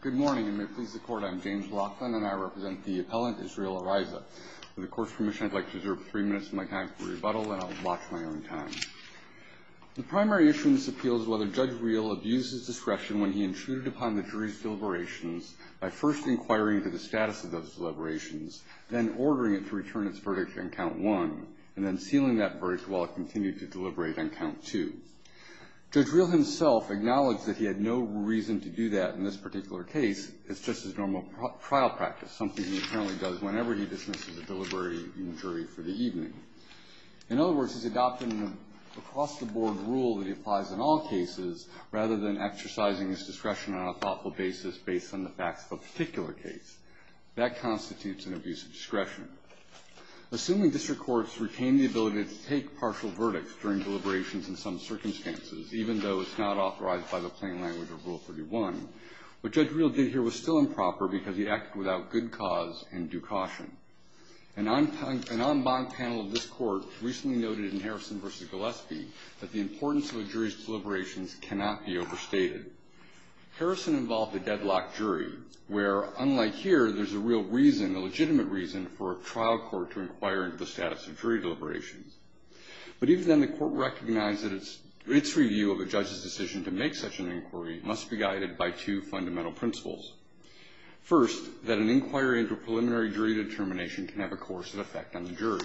Good morning, and may it please the Court, I'm James Laughlin, and I represent the appellant Israel Araiza. With the Court's permission, I'd like to reserve three minutes of my time for rebuttal, and I'll watch my own time. The primary issue in this appeal is whether Judge Reel abused his discretion when he intruded upon the jury's deliberations by first inquiring into the status of those deliberations, then ordering it to return its verdict on Count 1, and then sealing that verdict while it continued to deliberate on Count 2. Judge Reel himself acknowledged that he had no reason to do that in this particular case. It's just his normal trial practice, something he apparently does whenever he dismisses a deliberative jury for the evening. In other words, he's adopted an across-the-board rule that he applies in all cases rather than exercising his discretion on a thoughtful basis based on the facts of a particular case. That constitutes an abuse of discretion. Assuming district courts retain the ability to take partial verdicts during deliberations in some circumstances, even though it's not authorized by the plain language of Rule 31, what Judge Reel did here was still improper because he acted without good cause and due caution. An en banc panel of this Court recently noted in Harrison v. Gillespie that the importance of a jury's deliberations cannot be overstated. Harrison involved a deadlock jury where, unlike here, there's a real reason, a legitimate reason for a trial court to inquire into the status of jury deliberations. But even then, the Court recognized that its review of a judge's decision to make such an inquiry must be guided by two fundamental principles. First, that an inquiry into a preliminary jury determination can have a coercive effect on the jury.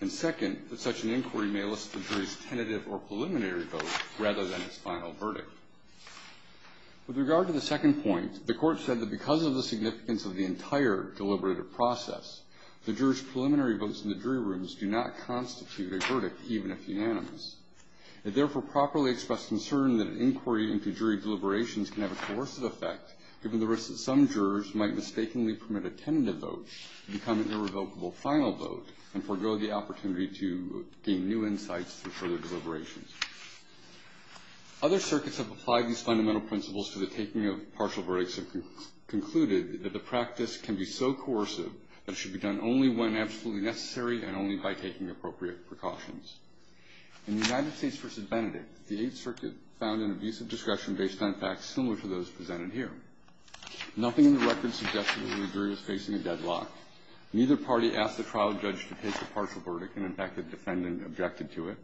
And second, that such an inquiry may elicit the jury's tentative or preliminary vote rather than its final verdict. With regard to the second point, the Court said that because of the significance of the entire deliberative process, the jurors' preliminary votes in the jury rooms do not constitute a verdict, even if unanimous. It therefore properly expressed concern that an inquiry into jury deliberations can have a coercive effect given the risk that some jurors might mistakenly permit a tentative vote to become an irrevocable final vote and forego the opportunity to gain new insights through further deliberations. Other circuits have applied these fundamental principles to the taking of partial verdicts and concluded that the practice can be so coercive that it should be done only when absolutely necessary and only by taking appropriate precautions. In the United States v. Benedict, the Eighth Circuit found an abusive discretion based on facts similar to those presented here. Nothing in the record suggested that the jury was facing a deadlock. Neither party asked the trial judge to take a partial verdict, and in fact, the defendant objected to it.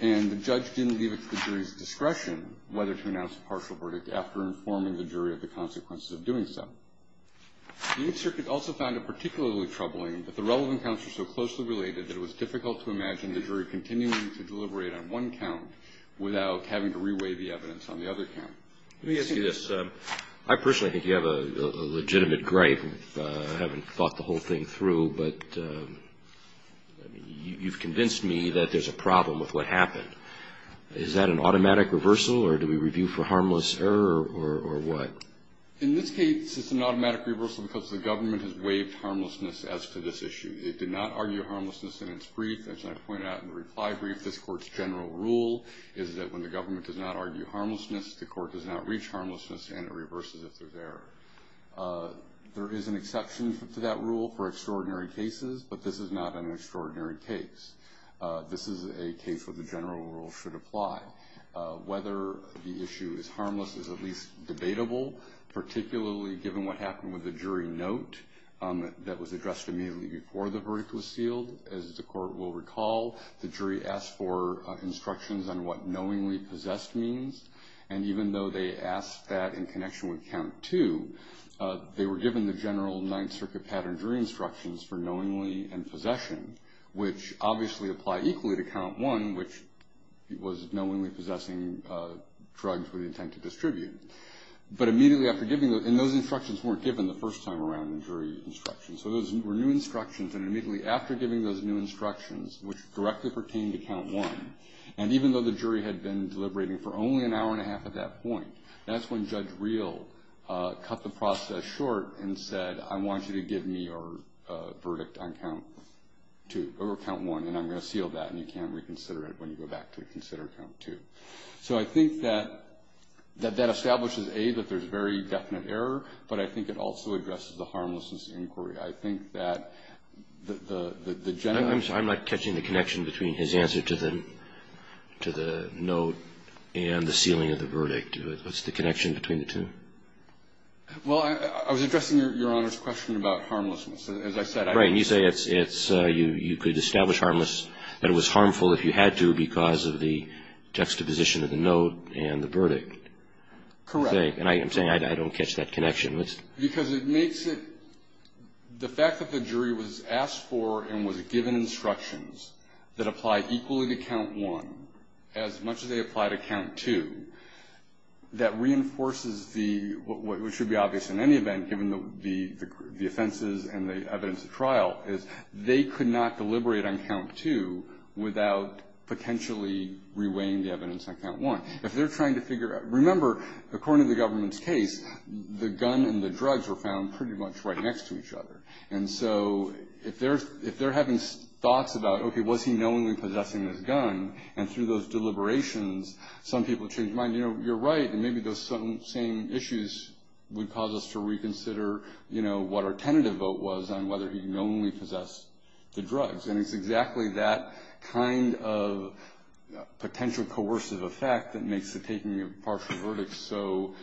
And the judge didn't leave it to the jury's discretion whether to announce a partial verdict after informing the jury of the consequences of doing so. The Eighth Circuit also found it particularly troubling that the relevant counts were so closely related that it was difficult to imagine the jury continuing to deliberate on one count without having to reweigh the evidence on the other count. Let me ask you this. I personally think you have a legitimate gripe. I haven't thought the whole thing through, but you've convinced me that there's a problem with what happened. Is that an automatic reversal, or do we review for harmless error, or what? In this case, it's an automatic reversal because the government has waived harmlessness as to this issue. It did not argue harmlessness in its brief. As I pointed out in the reply brief, this Court's general rule is that when the government does not argue harmlessness, the Court does not reach harmlessness, and it reverses if there's error. There is an exception to that rule for extraordinary cases, but this is not an extraordinary case. This is a case where the general rule should apply. Whether the issue is harmless is at least debatable, particularly given what happened with the jury note that was addressed immediately before the verdict was sealed. As the Court will recall, the jury asked for instructions on what knowingly possessed means, and even though they asked that in connection with count two, they were given the general Ninth Circuit pattern jury instructions for knowingly and possession, which obviously apply equally to count one, which was knowingly possessing drugs with the intent to distribute. But immediately after giving those, and those instructions weren't given the first time around in jury instructions, so those were new instructions, and immediately after giving those new instructions, which directly pertained to count one, and even though the jury had been deliberating for only an hour and a half at that point, that's when Judge Reel cut the process short and said, I want you to give me your verdict on count two, or count one, and I'm going to seal that, and you can't reconsider it when you go back to consider count two. So I think that that establishes, A, that there's very definite error, but I think it also addresses the harmlessness of the inquiry. I think that the general ---- Roberts. I'm sorry. I'm not catching the connection between his answer to the note and the sealing of the verdict. What's the connection between the two? Well, I was addressing Your Honor's question about harmlessness. As I said, I ---- Right. And you say it's you could establish harmless, and it was harmful if you had to because of the juxtaposition of the note and the verdict. Correct. And I'm saying I don't catch that connection. Because it makes it ---- the fact that the jury was asked for and was given instructions that apply equally to count one as much as they apply to count two, that reinforces the ---- what should be obvious in any event, given the offenses and the evidence of trial, is they could not deliberate on count two without potentially reweighing the evidence on count one. If they're trying to figure out ---- remember, according to the government's case, the gun and the drugs were found pretty much right next to each other. And so if they're having thoughts about, okay, was he knowingly possessing this gun, and through those deliberations some people change their mind, you know, you're right, and maybe those same issues would cause us to reconsider, you know, what our tentative vote was on whether he knowingly possessed the drugs. And it's exactly that kind of potential coercive effect that makes the taking of partial verdicts so,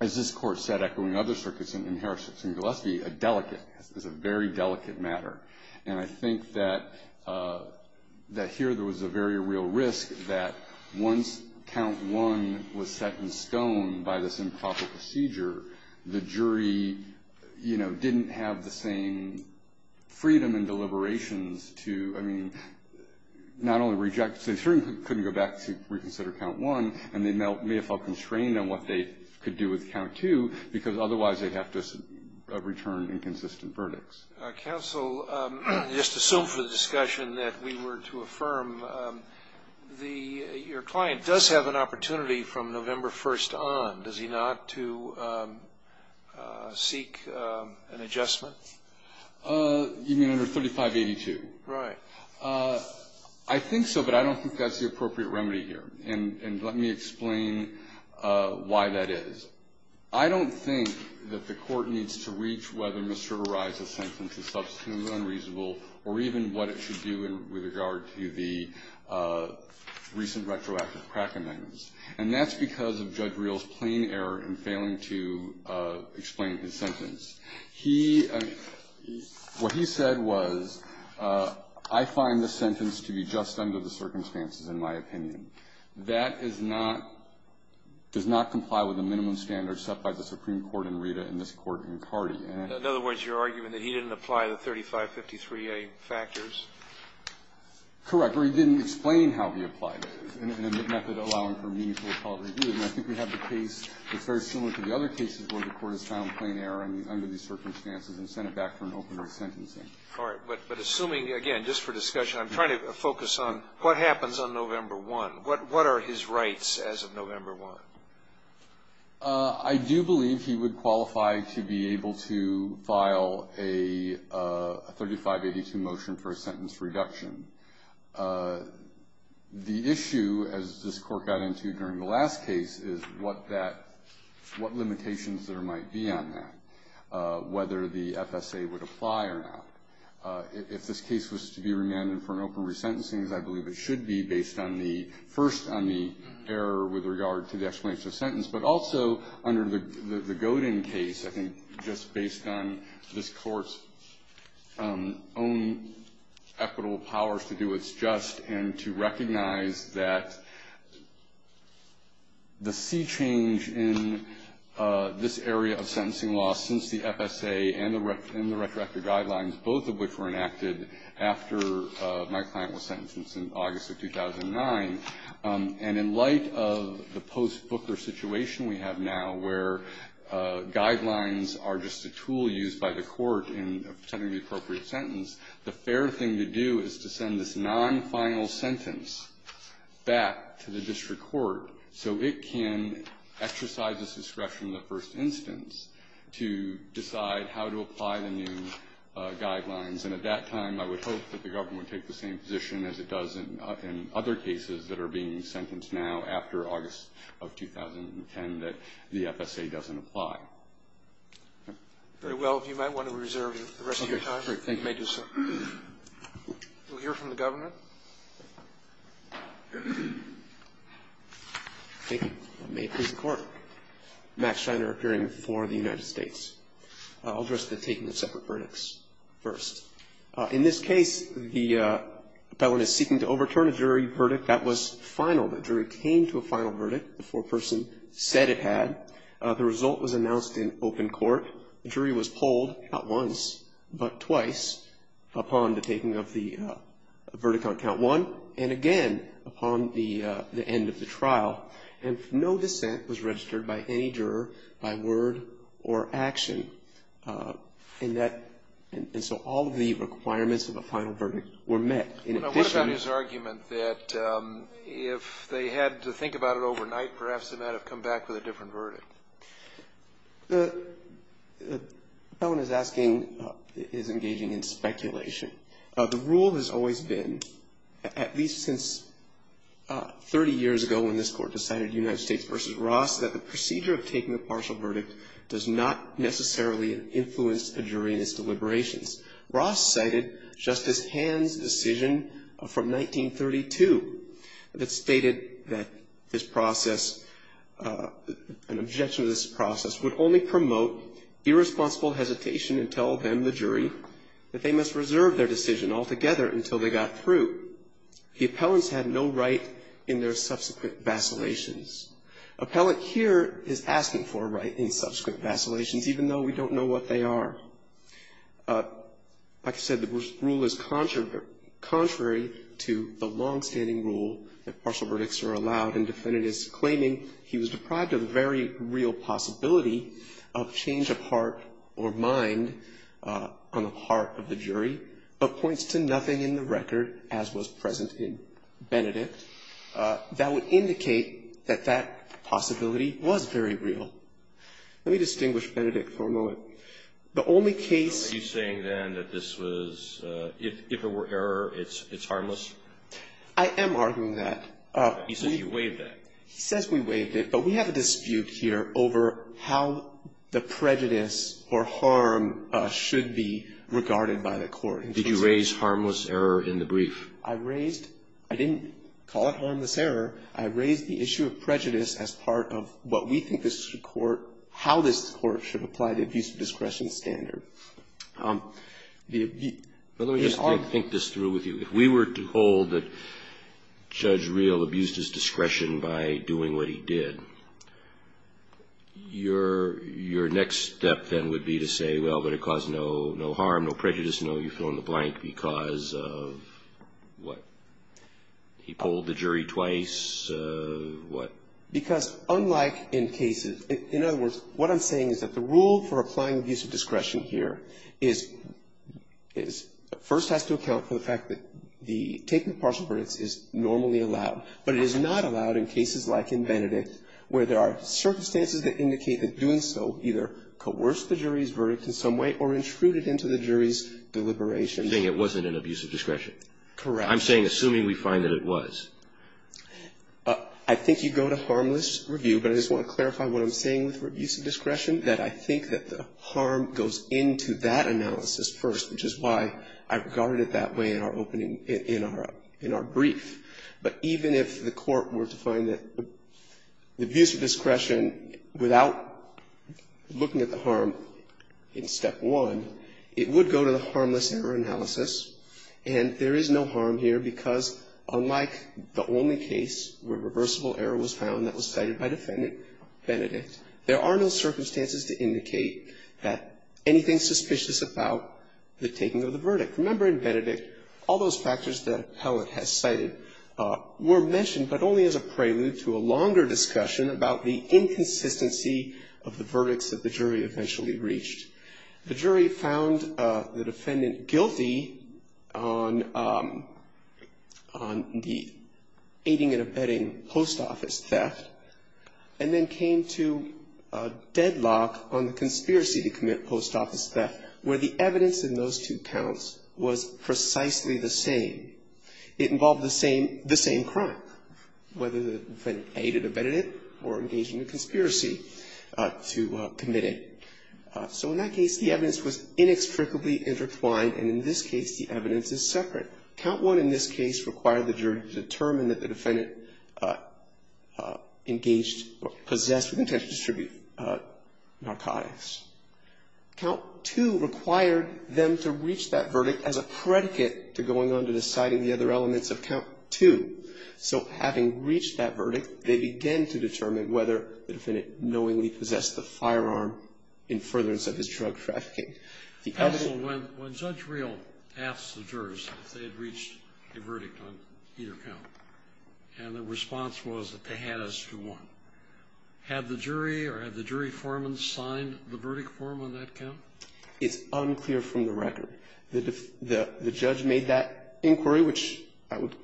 as this Court said echoing other circuits in Harris v. Gillespie, a delicate, it's a very delicate matter. And I think that here there was a very real risk that once count one was set in stone by this improper procedure, the jury, you know, didn't have the same freedom and deliberations to, I mean, not only reject, they certainly couldn't go back to reconsider count one, and they may have felt constrained on what they could do with count two, because otherwise they'd have to return inconsistent verdicts. Counsel, just to assume for the discussion that we were to affirm, your client does have an opportunity from November 1st on, does he not, to seek an adjustment? You mean under 3582? Right. I think so, but I don't think that's the appropriate remedy here. And let me explain why that is. I don't think that the Court needs to reach whether Mr. Verrilli's sentence is substantively unreasonable or even what it should do with regard to the recent retroactive crack amendments. And that's because of Judge Reel's plain error in failing to explain his sentence. He, I mean, what he said was, I find the sentence to be just under the circumstances, in my opinion. That is not, does not comply with the minimum standards set by the Supreme Court in Rita and this Court in Cardi. In other words, you're arguing that he didn't apply the 3553A factors? Correct. Or he didn't explain how he applied it in a method allowing for meaningful And I think we have the case that's very similar to the other cases where the Court has found plain error under the circumstances and sent it back for an opener sentencing. All right. But assuming, again, just for discussion, I'm trying to focus on what happens on November 1. What are his rights as of November 1? I do believe he would qualify to be able to file a 3582 motion for a sentence reduction. The issue, as this Court got into during the last case, is what that, what limitations there might be on that, whether the FSA would apply or not. If this case was to be remanded for an open resentencing, as I believe it should be, based on the first, on the error with regard to the explanation of the sentence, but also under the Godin case, I think just based on this Court's own equitable powers to do what's just and to recognize that the sea change in this area of sentencing law since the FSA and the retroactive guidelines, both of which were enacted after my client was sentenced in August of 2009. And in light of the post-Booker situation we have now, where guidelines are just a tool used by the Court in setting the appropriate sentence, the fair thing to do is to send this non-final sentence back to the district court so it can exercise its discretion in the first instance to decide how to apply the new guidelines. And at that time, I would hope that the government would take the same position as it does in other cases that are being sentenced now after August of 2010, that the FSA doesn't apply. Very well. If you might want to reserve the rest of your time. You may do so. We'll hear from the government. Thank you. May it please the Court. Max Scheiner, appearing before the United States. I'll address the taking of separate verdicts first. In this case, the felon is seeking to overturn a jury verdict that was final. The jury came to a final verdict before a person said it had. The result was announced in open court. The jury was polled not once but twice upon the taking of the verdict on count one and again upon the end of the trial. And no dissent was registered by any juror by word or action. And so all of the requirements of a final verdict were met. Now, what about his argument that if they had to think about it overnight, perhaps they might have come back with a different verdict? The felon is asking, is engaging in speculation. The rule has always been, at least since 30 years ago when this Court decided, United States v. Ross, that the procedure of taking a partial verdict does not necessarily influence a jury in its deliberations. Ross cited Justice Hand's decision from 1932 that stated that this process, an objection to this process, would only promote irresponsible hesitation and tell them, the jury, that they must reserve their decision altogether until they got through. The appellants had no right in their subsequent vacillations. Appellant here is asking for a right in subsequent vacillations, even though we don't know what they are. Like I said, the rule is contrary to the longstanding rule that partial verdicts are allowed, and defendant is claiming he was deprived of a very real possibility of change of heart or mind on the part of the jury, but points to nothing in the record, as was present in Benedict, that would indicate that that possibility was very real. Let me distinguish Benedict for a moment. The only case Are you saying, then, that this was, if it were error, it's harmless? I am arguing that. He says you waived that. He says we waived it, but we have a dispute here over how the prejudice or harm should be regarded by the Court. Did you raise harmless error in the brief? I raised, I didn't call it harmless error. I raised the issue of prejudice as part of what we think this should court, how this court should apply the abuse of discretion standard. Let me just think this through with you. If we were to hold that Judge Reel abused his discretion by doing what he did, your next step, then, would be to say, well, but it caused no harm, no prejudice, no, you fill in the blank because of what? He polled the jury twice, what? Because unlike in cases, in other words, what I'm saying is that the rule for applying abuse of discretion here is, first has to account for the fact that the taking of partial verdicts is normally allowed, but it is not allowed in cases like in Benedict where there are circumstances that indicate that doing so either coerced the jury's verdict in some way or intruded into the jury's deliberation. You're saying it wasn't an abuse of discretion. Correct. I'm saying, assuming we find that it was. I think you go to harmless review, but I just want to clarify what I'm saying with abuse of discretion, that I think that the harm goes into that analysis first, which is why I regarded it that way in our opening, in our brief. But even if the court were to find that the abuse of discretion without looking at the harm in step one, it would go to the harmless error analysis. And there is no harm here because unlike the only case where reversible error was found that was cited by Defendant Benedict, there are no circumstances to indicate that anything suspicious about the taking of the verdict. Remember in Benedict, all those factors that Appellant has cited were mentioned, but only as a prelude to a longer discussion about the inconsistency of the verdicts that the jury eventually reached. The jury found the defendant guilty on the aiding and abetting post office theft and then came to a deadlock on the conspiracy to commit post office theft, where the evidence in those two counts was precisely the same. It involved the same crime, whether the defendant aided or abetted it or engaged in a conspiracy to commit it. So in that case, the evidence was inextricably intertwined, and in this case the evidence is separate. Count one in this case required the jury to determine that the defendant engaged or possessed with intent to distribute narcotics. Count two required them to reach that verdict as a predicate to going on to deciding the other elements of count two. So having reached that verdict, they began to determine whether the defendant knowingly possessed the firearm in furtherance of his drug trafficking. The other one --- Sotomayor When Judge Riel asked the jurors if they had reached a verdict on either count, and the response was that they had as to one, had the jury or had the jury foreman signed the verdict form on that count? Itsunclear from the record. The judge made that inquiry, which I would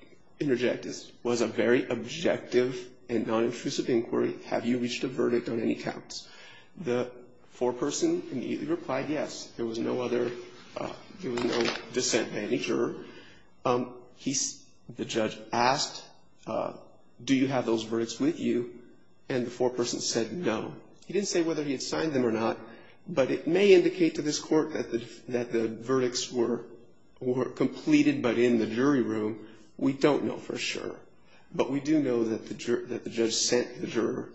interject as was a very objective and nonintrusive inquiry, have you reached a verdict on any counts? The foreperson immediately replied yes. There was no other, there was no dissent by any juror. The judge asked, do you have those verdicts with you? And the foreperson said no. He didn't say whether he had signed them or not, but it may indicate to this court that the verdicts were completed but in the jury room. We don't know for sure. But we do know that the judge sent the juror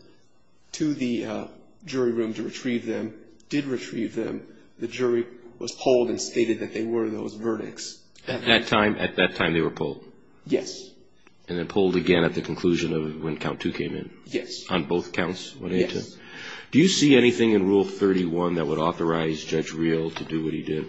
to the jury room to retrieve them, did retrieve them. The jury was polled and stated that they were those verdicts. At that time they were polled? Yes. And then polled again at the conclusion of when count two came in? Yes. On both counts? Yes. Do you see anything in Rule 31 that would authorize Judge Riel to do what he did?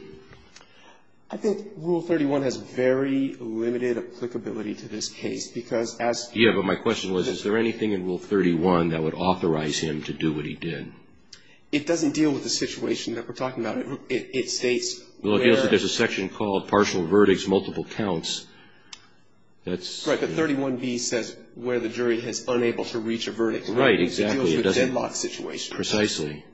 I think Rule 31 has very limited applicability to this case because as... Yes, but my question was, is there anything in Rule 31 that would authorize him to do what he did? It doesn't deal with the situation that we're talking about. It states where... Well, it deals with, there's a section called partial verdicts, multiple counts. That's... Right, but 31b says where the jury is unable to reach a verdict. Right, exactly. It deals with deadlock situations. Precisely.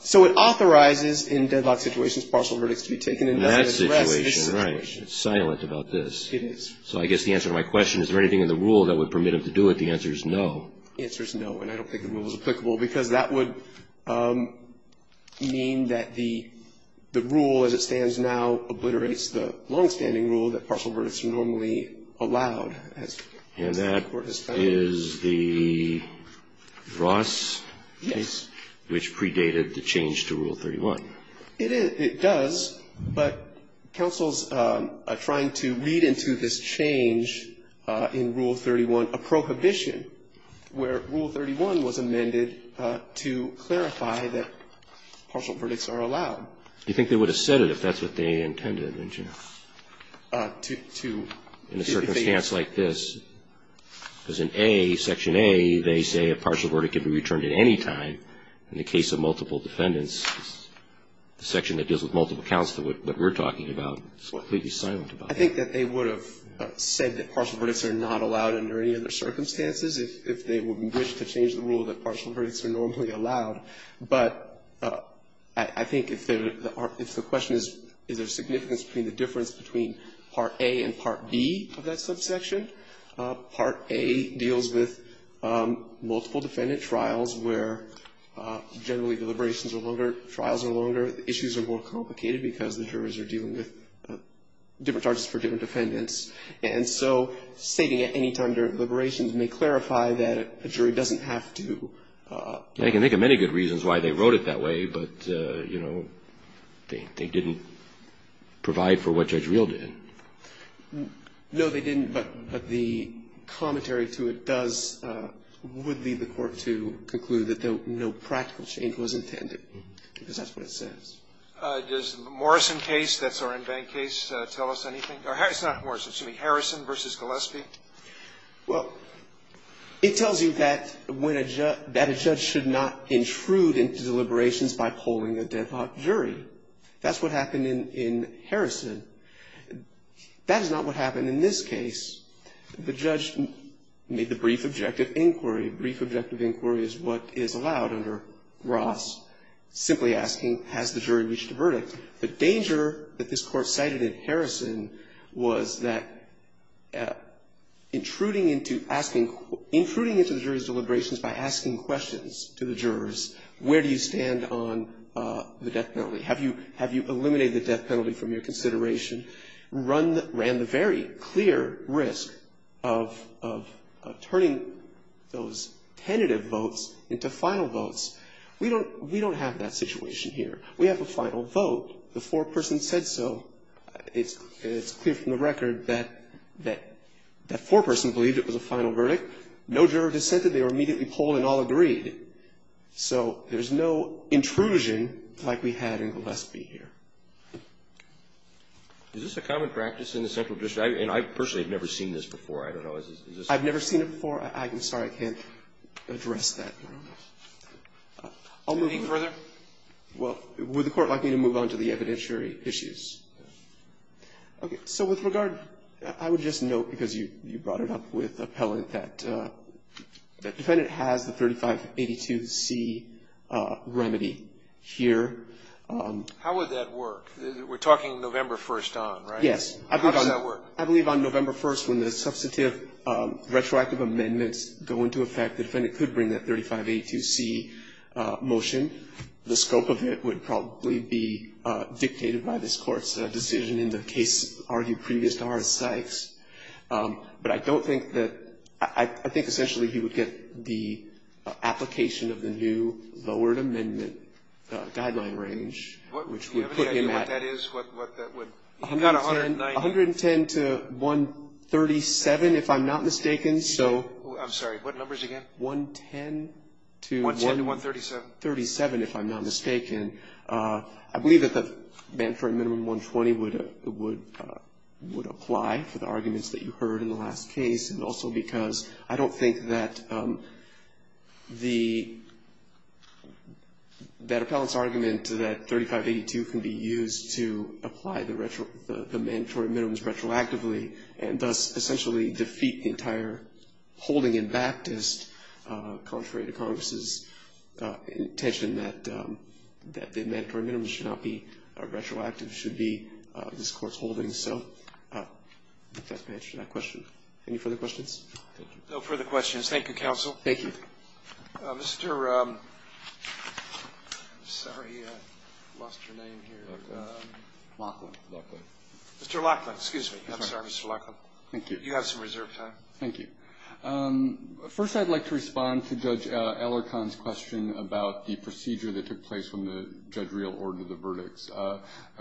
So it authorizes in deadlock situations partial verdicts to be taken. In that situation, right. It's silent about this. It is. So I guess the answer to my question, is there anything in the rule that would permit him to do it? The answer is no. The answer is no, and I don't think the rule is applicable because that would mean that the rule as it stands now obliterates the longstanding rule that partial verdicts are normally allowed. And that is the Ross case? Yes. Which predated the change to Rule 31. It does, but counsels are trying to lead into this change in Rule 31, a prohibition where Rule 31 was amended to clarify that partial verdicts are allowed. You think they would have said it if that's what they intended, didn't you? To... Right. In the case of multiple defendants, the section that deals with multiple counts, what we're talking about, is completely silent about that. I think that they would have said that partial verdicts are not allowed under any other circumstances if they would have wished to change the rule that partial verdicts are normally allowed. But I think if the question is, is there a significance between the difference between Part A and Part B of that subsection? Part A deals with multiple defendant trials where generally deliberations are longer, trials are longer, issues are more complicated because the jurors are dealing with different charges for different defendants. And so stating at any time during deliberations may clarify that a jury doesn't have to... I can think of many good reasons why they wrote it that way, but, you know, they didn't provide for what Judge Reel did. No, they didn't, but the commentary to it does, would lead the court to conclude that no practical change was intended because that's what it says. Does the Morrison case, that's our in-bank case, tell us anything? It's not Morrison. Excuse me. Harrison v. Gillespie? Well, it tells you that a judge should not intrude into deliberations by polling a deadlocked jury. That's what happened in Harrison. That is not what happened in this case. The judge made the brief objective inquiry. Brief objective inquiry is what is allowed under Ross, simply asking, has the jury reached a verdict? The danger that this Court cited in Harrison was that intruding into asking, intruding into the jury's deliberations by asking questions to the jurors, where do you stand on the death penalty? Have you eliminated the death penalty from your consideration? Ran the very clear risk of turning those tentative votes into final votes. We don't have that situation here. We have a final vote. The foreperson said so. It's clear from the record that that foreperson believed it was a final verdict. No juror dissented. They were immediately polled and all agreed. So there's no intrusion like we had in Gillespie here. Is this a common practice in the central district? And I personally have never seen this before. I don't know. I've never seen it before. I'm sorry I can't address that. I'll move on. Anything further? Well, would the Court like me to move on to the evidentiary issues? Yes. Okay. So with regard, I would just note, because you brought it up with Appellant, that the defendant has the 3582C remedy here. How would that work? We're talking November 1st on, right? Yes. How does that work? I believe on November 1st when the substantive retroactive amendments go into effect, the defendant could bring that 3582C motion. The scope of it would probably be dictated by this Court's decision in the case argued previous to R.S. Sykes. But I don't think that – I think essentially he would get the application of the new lowered amendment guideline range, which would put him at 110 to 137, if I'm not mistaken. I'm sorry. What numbers again? 110 to 137, if I'm not mistaken. I believe that the mandatory minimum 120 would apply for the arguments that you heard in the last case. And also because I don't think that the – that Appellant's argument that 3582 can be used to apply the mandatory minimums retroactively and thus essentially defeat the entire holding in Baptist, contrary to Congress's intention that the mandatory minimums should not be retroactive, should be this Court's holding. So I think that's my answer to that question. Any further questions? Thank you. No further questions. Thank you, counsel. Thank you. Mr. – I'm sorry, I lost your name here. Lachlan. Lachlan. Mr. Lachlan. Excuse me. I'm sorry, Mr. Lachlan. Thank you. You have some reserved time. Thank you. First, I'd like to respond to Judge Alarcon's question about the procedure that took place when the judge reordered the verdicts.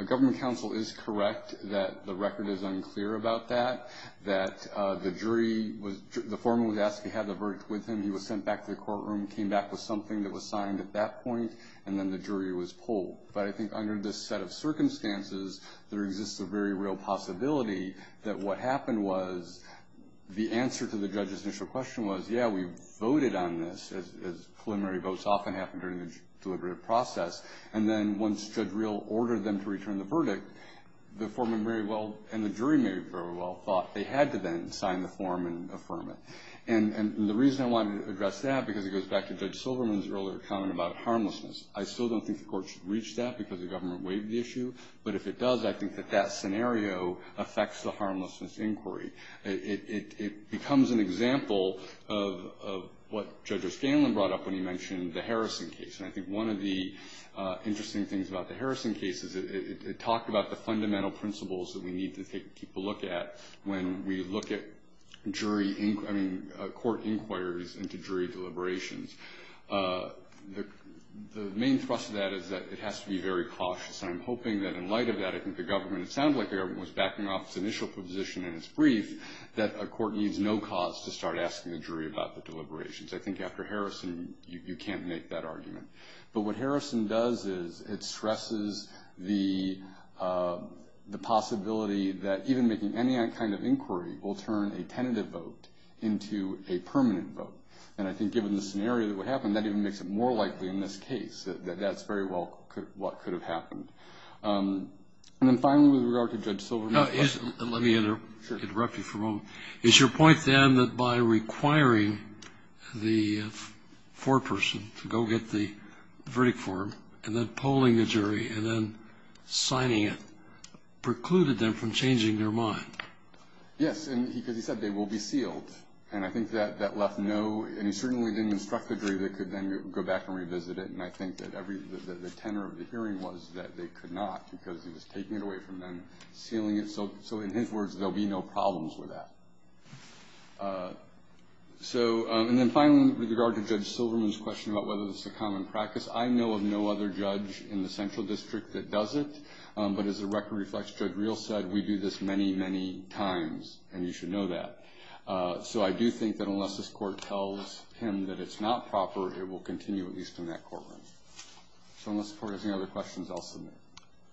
Government counsel is correct that the record is unclear about that, that the jury was – the foreman was asked to have the verdict with him. He was sent back to the courtroom, came back with something that was signed at that point, and then the jury was pulled. But I think under this set of circumstances, there exists a very real possibility that what happened was the answer to the judge's initial question was, yeah, we voted on this, as preliminary votes often happen during the deliberative process. And then once Judge Real ordered them to return the verdict, the foreman very well and the jury very well thought they had to then sign the form and affirm it. And the reason I wanted to address that, because it goes back to Judge Silverman's earlier comment about harmlessness, I still don't think the court should reach that because the government waived the issue. But if it does, I think that that scenario affects the harmlessness inquiry. It becomes an example of what Judge O'Scanlan brought up when he mentioned the Harrison case. And I think one of the interesting things about the Harrison case is it talked about the fundamental principles that we need to take a look at when we look at jury – I mean, court inquiries into jury deliberations. The main thrust of that is that it has to be very cautious. And I'm hoping that in light of that, I think the government – it sounds like the government was backing off its initial proposition in its brief that a court needs no cause to start asking the jury about the deliberations. I think after Harrison, you can't make that argument. But what Harrison does is it stresses the possibility that even making any kind of inquiry will turn a tentative vote into a permanent vote. And I think given the scenario that would happen, that even makes it more likely in this case that that's very well what could have happened. And then finally, with regard to Judge Silver – Let me interrupt you for a moment. Is your point, then, that by requiring the foreperson to go get the verdict for him and then polling the jury and then signing it precluded them from changing their mind? Yes, because he said they will be sealed. And I think that left no – and he certainly didn't instruct the jury that they could then go back and revisit it. And I think that every – the tenor of the hearing was that they could not, because he was taking it away from them, sealing it. So in his words, there will be no problems with that. So – and then finally, with regard to Judge Silverman's question about whether this is a common practice, I know of no other judge in the Central District that does it. But as the record reflects, Judge Reel said, we do this many, many times, and you should know that. So I do think that unless this Court tells him that it's not proper, it will continue at least in that courtroom. So unless the Court has any other questions, I'll submit.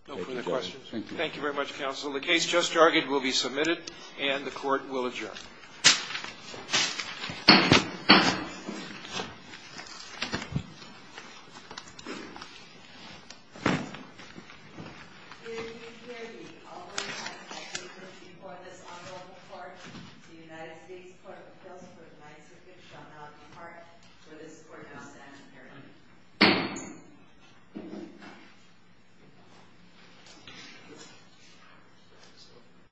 No further questions. Thank you. Thank you very much, Counsel. The case just argued will be submitted, and the Court will adjourn.